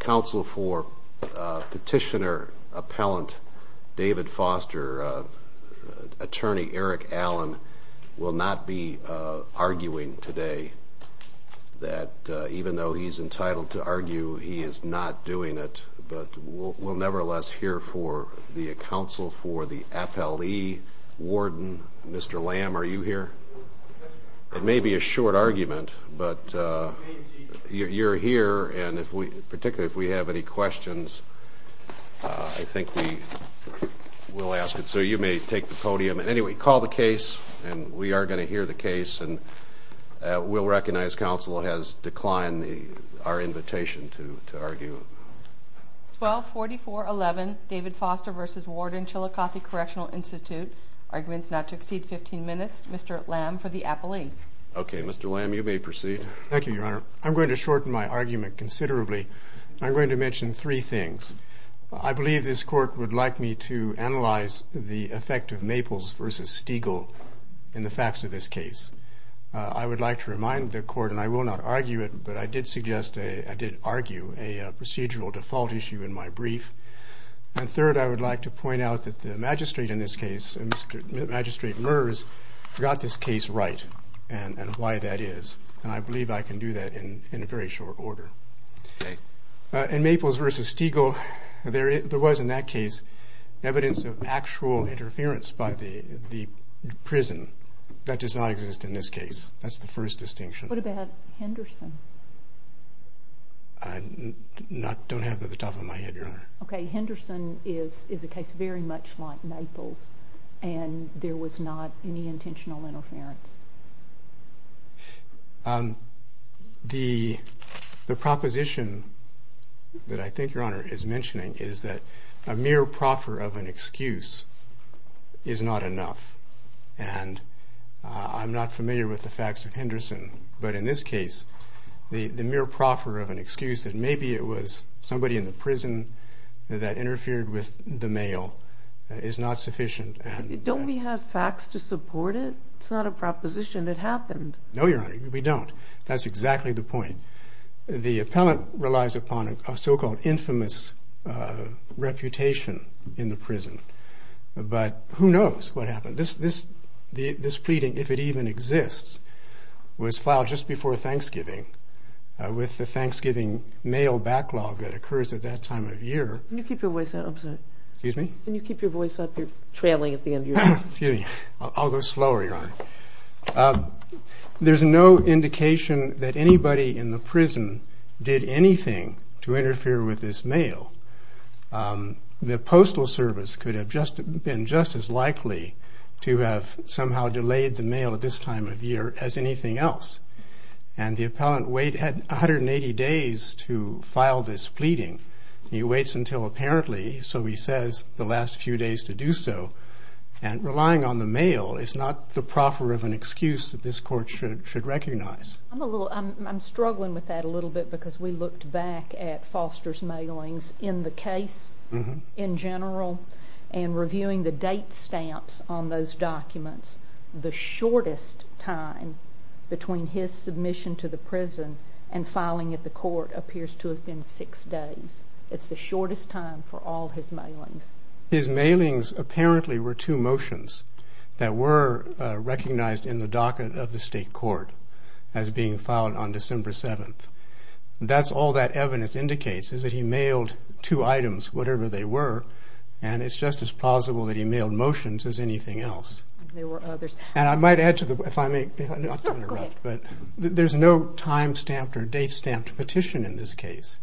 Council for Petitioner Appellant David Foster Attorney Eric Allen will not be arguing today that even though he's entitled to argue he is not doing it but we'll nevertheless hear for the council for the FLE Warden Mr. Lamb are you here it may be a short argument but you're here and if we particularly if we have any questions I think we will ask it so you may take the podium and anyway call the case and we are going to hear the case and we'll recognize council has declined the our invitation to argue 1244 11 David Foster versus Warden Chillicothe Correctional Institute arguments not to exceed 15 minutes Mr. Lamb for the appellee okay Mr. Lamb you may proceed thank you your honor I'm going to shorten my argument considerably I'm going to mention three things I believe this court would like me to analyze the effect of Maples versus Stiegel in the facts of this case I would like to remind the court and I will not argue it but I did suggest a I did argue a procedural default issue in my brief and I would like to point out that the magistrate in this case and mr. magistrate MERS got this case right and and why that is and I believe I can do that in in a very short order okay and Maples versus Stiegel there there was in that case evidence of actual interference by the the prison that does not exist in this case that's the first distinction what about Henderson I'm not don't have at the top of my head okay Henderson is is a case very much like Naples and there was not any intentional interference the the proposition that I think your honor is mentioning is that a mere proffer of an excuse is not enough and I'm not familiar with the facts of Henderson but in this case the the mere proffer of an excuse that maybe it was somebody in the prison that interfered with the mail is not sufficient don't we have facts to support it it's not a proposition that happened no your honor we don't that's exactly the point the appellant relies upon a so-called infamous reputation in the prison but who knows what happened this this the this pleading if it even exists was the Thanksgiving mail backlog that occurs at that time of year you keep your voice out I'm sorry excuse me can you keep your voice up you're traveling at the end of your excuse me I'll go slower your honor there's no indication that anybody in the prison did anything to interfere with this mail the Postal Service could have just been just as likely to have somehow delayed the mail at this time of year as anything else and the appellant wait had 180 days to file this pleading he waits until apparently so he says the last few days to do so and relying on the mail is not the proffer of an excuse that this court should should recognize I'm a little I'm struggling with that a little bit because we looked back at Foster's mailings in the case in general and reviewing the stamps on those documents the shortest time between his submission to the prison and filing at the court appears to have been six days it's the shortest time for all his mailings his mailings apparently were two motions that were recognized in the docket of the state court as being filed on December 7th that's all that evidence indicates is that he mailed two items whatever they were and it's just as possible that he mailed motions as anything else and I might add to the but there's no time stamped or date stamped petition in this case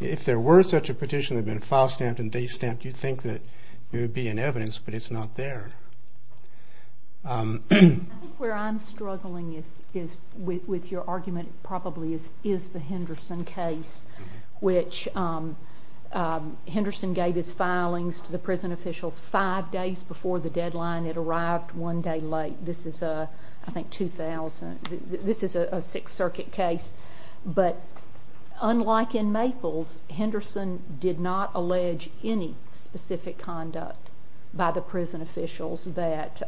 if there were such a petition have been file stamped and date stamped you think that there would be an evidence but it's not there where I'm struggling is with your argument probably is is the Henderson case which Henderson gave his filings to the prison officials five days before the deadline it arrived one day late this is a I think 2000 this is a Sixth Circuit case but unlike in Maples Henderson did not allege any specific conduct by the prison officials that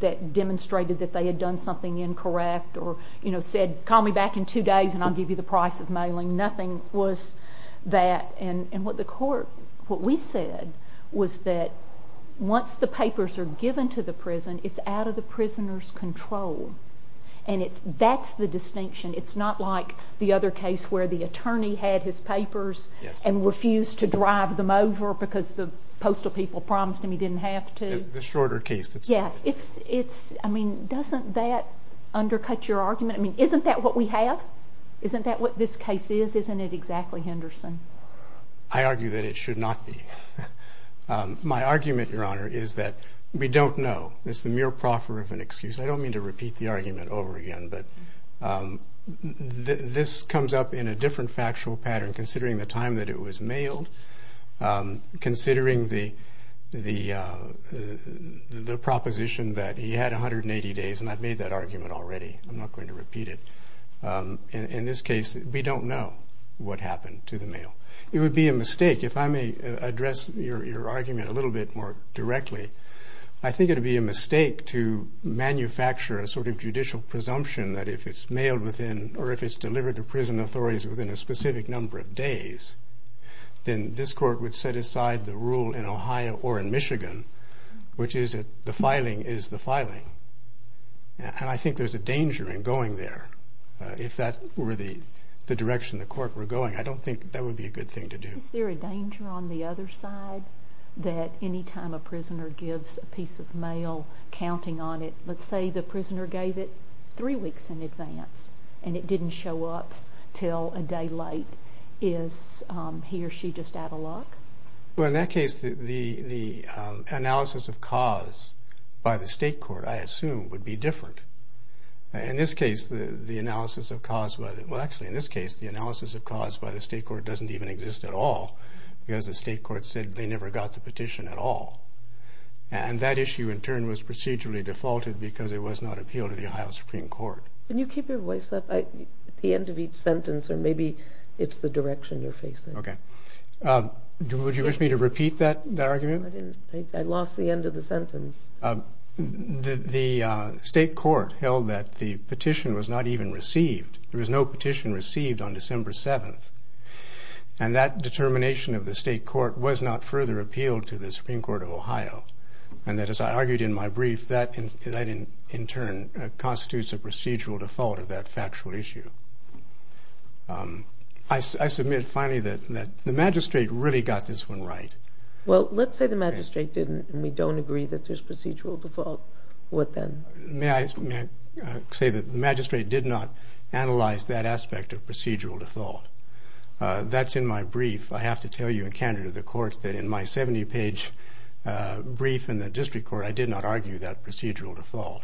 that demonstrated that they had done something incorrect or you know said call me back in two days and I'll give you the price of mailing nothing was that and and what the court what we said was that once the papers are given to the prison it's out of the prisoners control and it's that's the distinction it's not like the other case where the attorney had his papers and refused to drive them over because the postal people promised him he didn't have to the shorter case yeah it's it's I mean doesn't that undercut your argument I mean isn't that what we have isn't that what this case is isn't it exactly Henderson I argue that it should not be my argument your honor is that we don't know it's the mere proffer of an excuse I don't mean to repeat the argument over again but this comes up in a different factual pattern considering the time that it was mailed considering the the the proposition that he had 180 days and I've made that argument already I'm not going to repeat it in this case we don't know what happened to the mail it would be a mistake if I may address your argument a little bit more directly I think it would be a mistake to manufacture a sort of judicial presumption that if it's mailed within or if it's delivered to prison authorities within a specific number of days then this court would set aside the Ohio or in Michigan which is the filing is the filing and I think there's a danger in going there if that were the the direction the court were going I don't think that would be a good thing to do is there a danger on the other side that anytime a prisoner gives a piece of mail counting on it let's say the prisoner gave it three weeks in advance and it didn't show up till a day is he or she just out of luck? Well in that case the the analysis of cause by the state court I assume would be different in this case the the analysis of cause whether well actually in this case the analysis of cause by the state court doesn't even exist at all because the state court said they never got the petition at all and that issue in turn was procedurally defaulted because it was not appealed to the Ohio Supreme Court. Can you keep your voice up at the end of each sentence or maybe it's the direction you're facing? Okay would you wish me to repeat that argument? I lost the end of the sentence. The state court held that the petition was not even received there was no petition received on December 7th and that determination of the state court was not further appealed to the Supreme Court of Ohio and that as I argued in my brief that in turn constitutes a procedural default of that factual issue. I submit finally that the magistrate really got this one right. Well let's say the magistrate didn't and we don't agree that there's procedural default what then? May I say that the magistrate did not analyze that aspect of procedural default that's in my brief I have to tell you in Canada the court that in my 70-page brief in the district court I did not argue that procedural default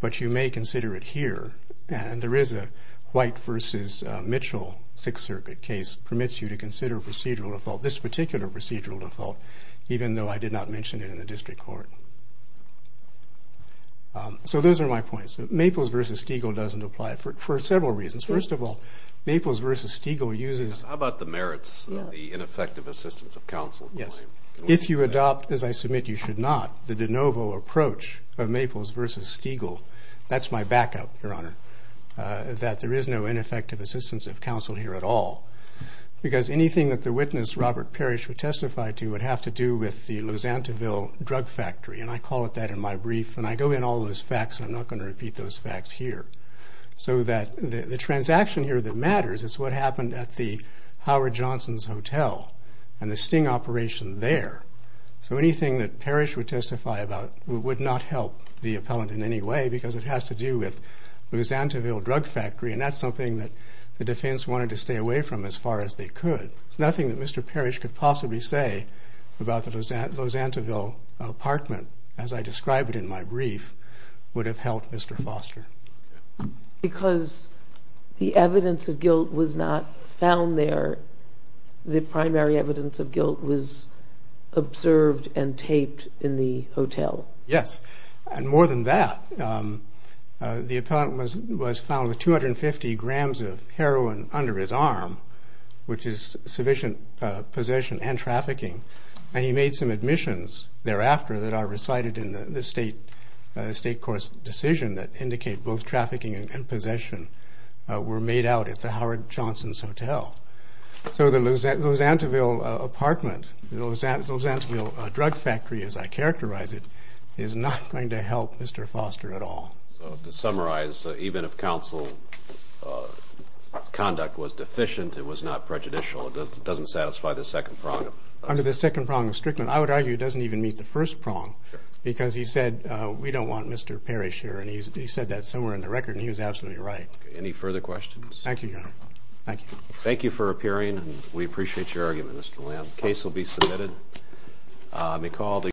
but you may consider it here and there is a White vs. Mitchell Sixth Circuit case permits you to consider procedural default this particular procedural default even though I did not mention it in the district court. So those are my points. Maples vs. Stiegel doesn't apply for several reasons. First of all Maples vs. Stiegel uses... How about the merits the ineffective assistance of counsel. If you adopt as I submit you should not the de novo approach of Maples vs. Stiegel that's my backup your honor that there is no ineffective assistance of counsel here at all because anything that the witness Robert Parrish would testify to would have to do with the Lusantoville drug factory and I call it that in my brief and I go in all those facts I'm not going to repeat those facts here so that the transaction here that matters is what Johnson's Hotel and the sting operation there so anything that Parrish would testify about would not help the appellant in any way because it has to do with Lusantoville drug factory and that's something that the defense wanted to stay away from as far as they could. Nothing that Mr. Parrish could possibly say about the Lusantoville apartment as I described it in my brief would have helped Mr. Foster. Because the evidence of guilt was not found there the primary evidence of guilt was observed and taped in the hotel. Yes and more than that the appellant was found with 250 grams of heroin under his arm which is sufficient possession and trafficking and he made some admissions thereafter that are recited in the state court's decision that indicate both trafficking and possession were made out at the Johnson's Hotel. So the Lusantoville apartment, Lusantoville drug factory as I characterize it is not going to help Mr. Foster at all. So to summarize even if counsel conduct was deficient it was not prejudicial that doesn't satisfy the second prong. Under the second prong of Strickland I would argue doesn't even meet the first prong because he said we don't want Mr. Parrish here and he said that somewhere in the record and he was absolutely right. Any further questions? Thank you your honor. Thank you for appearing and we appreciate your argument Mr. Lamb. Case will be submitted.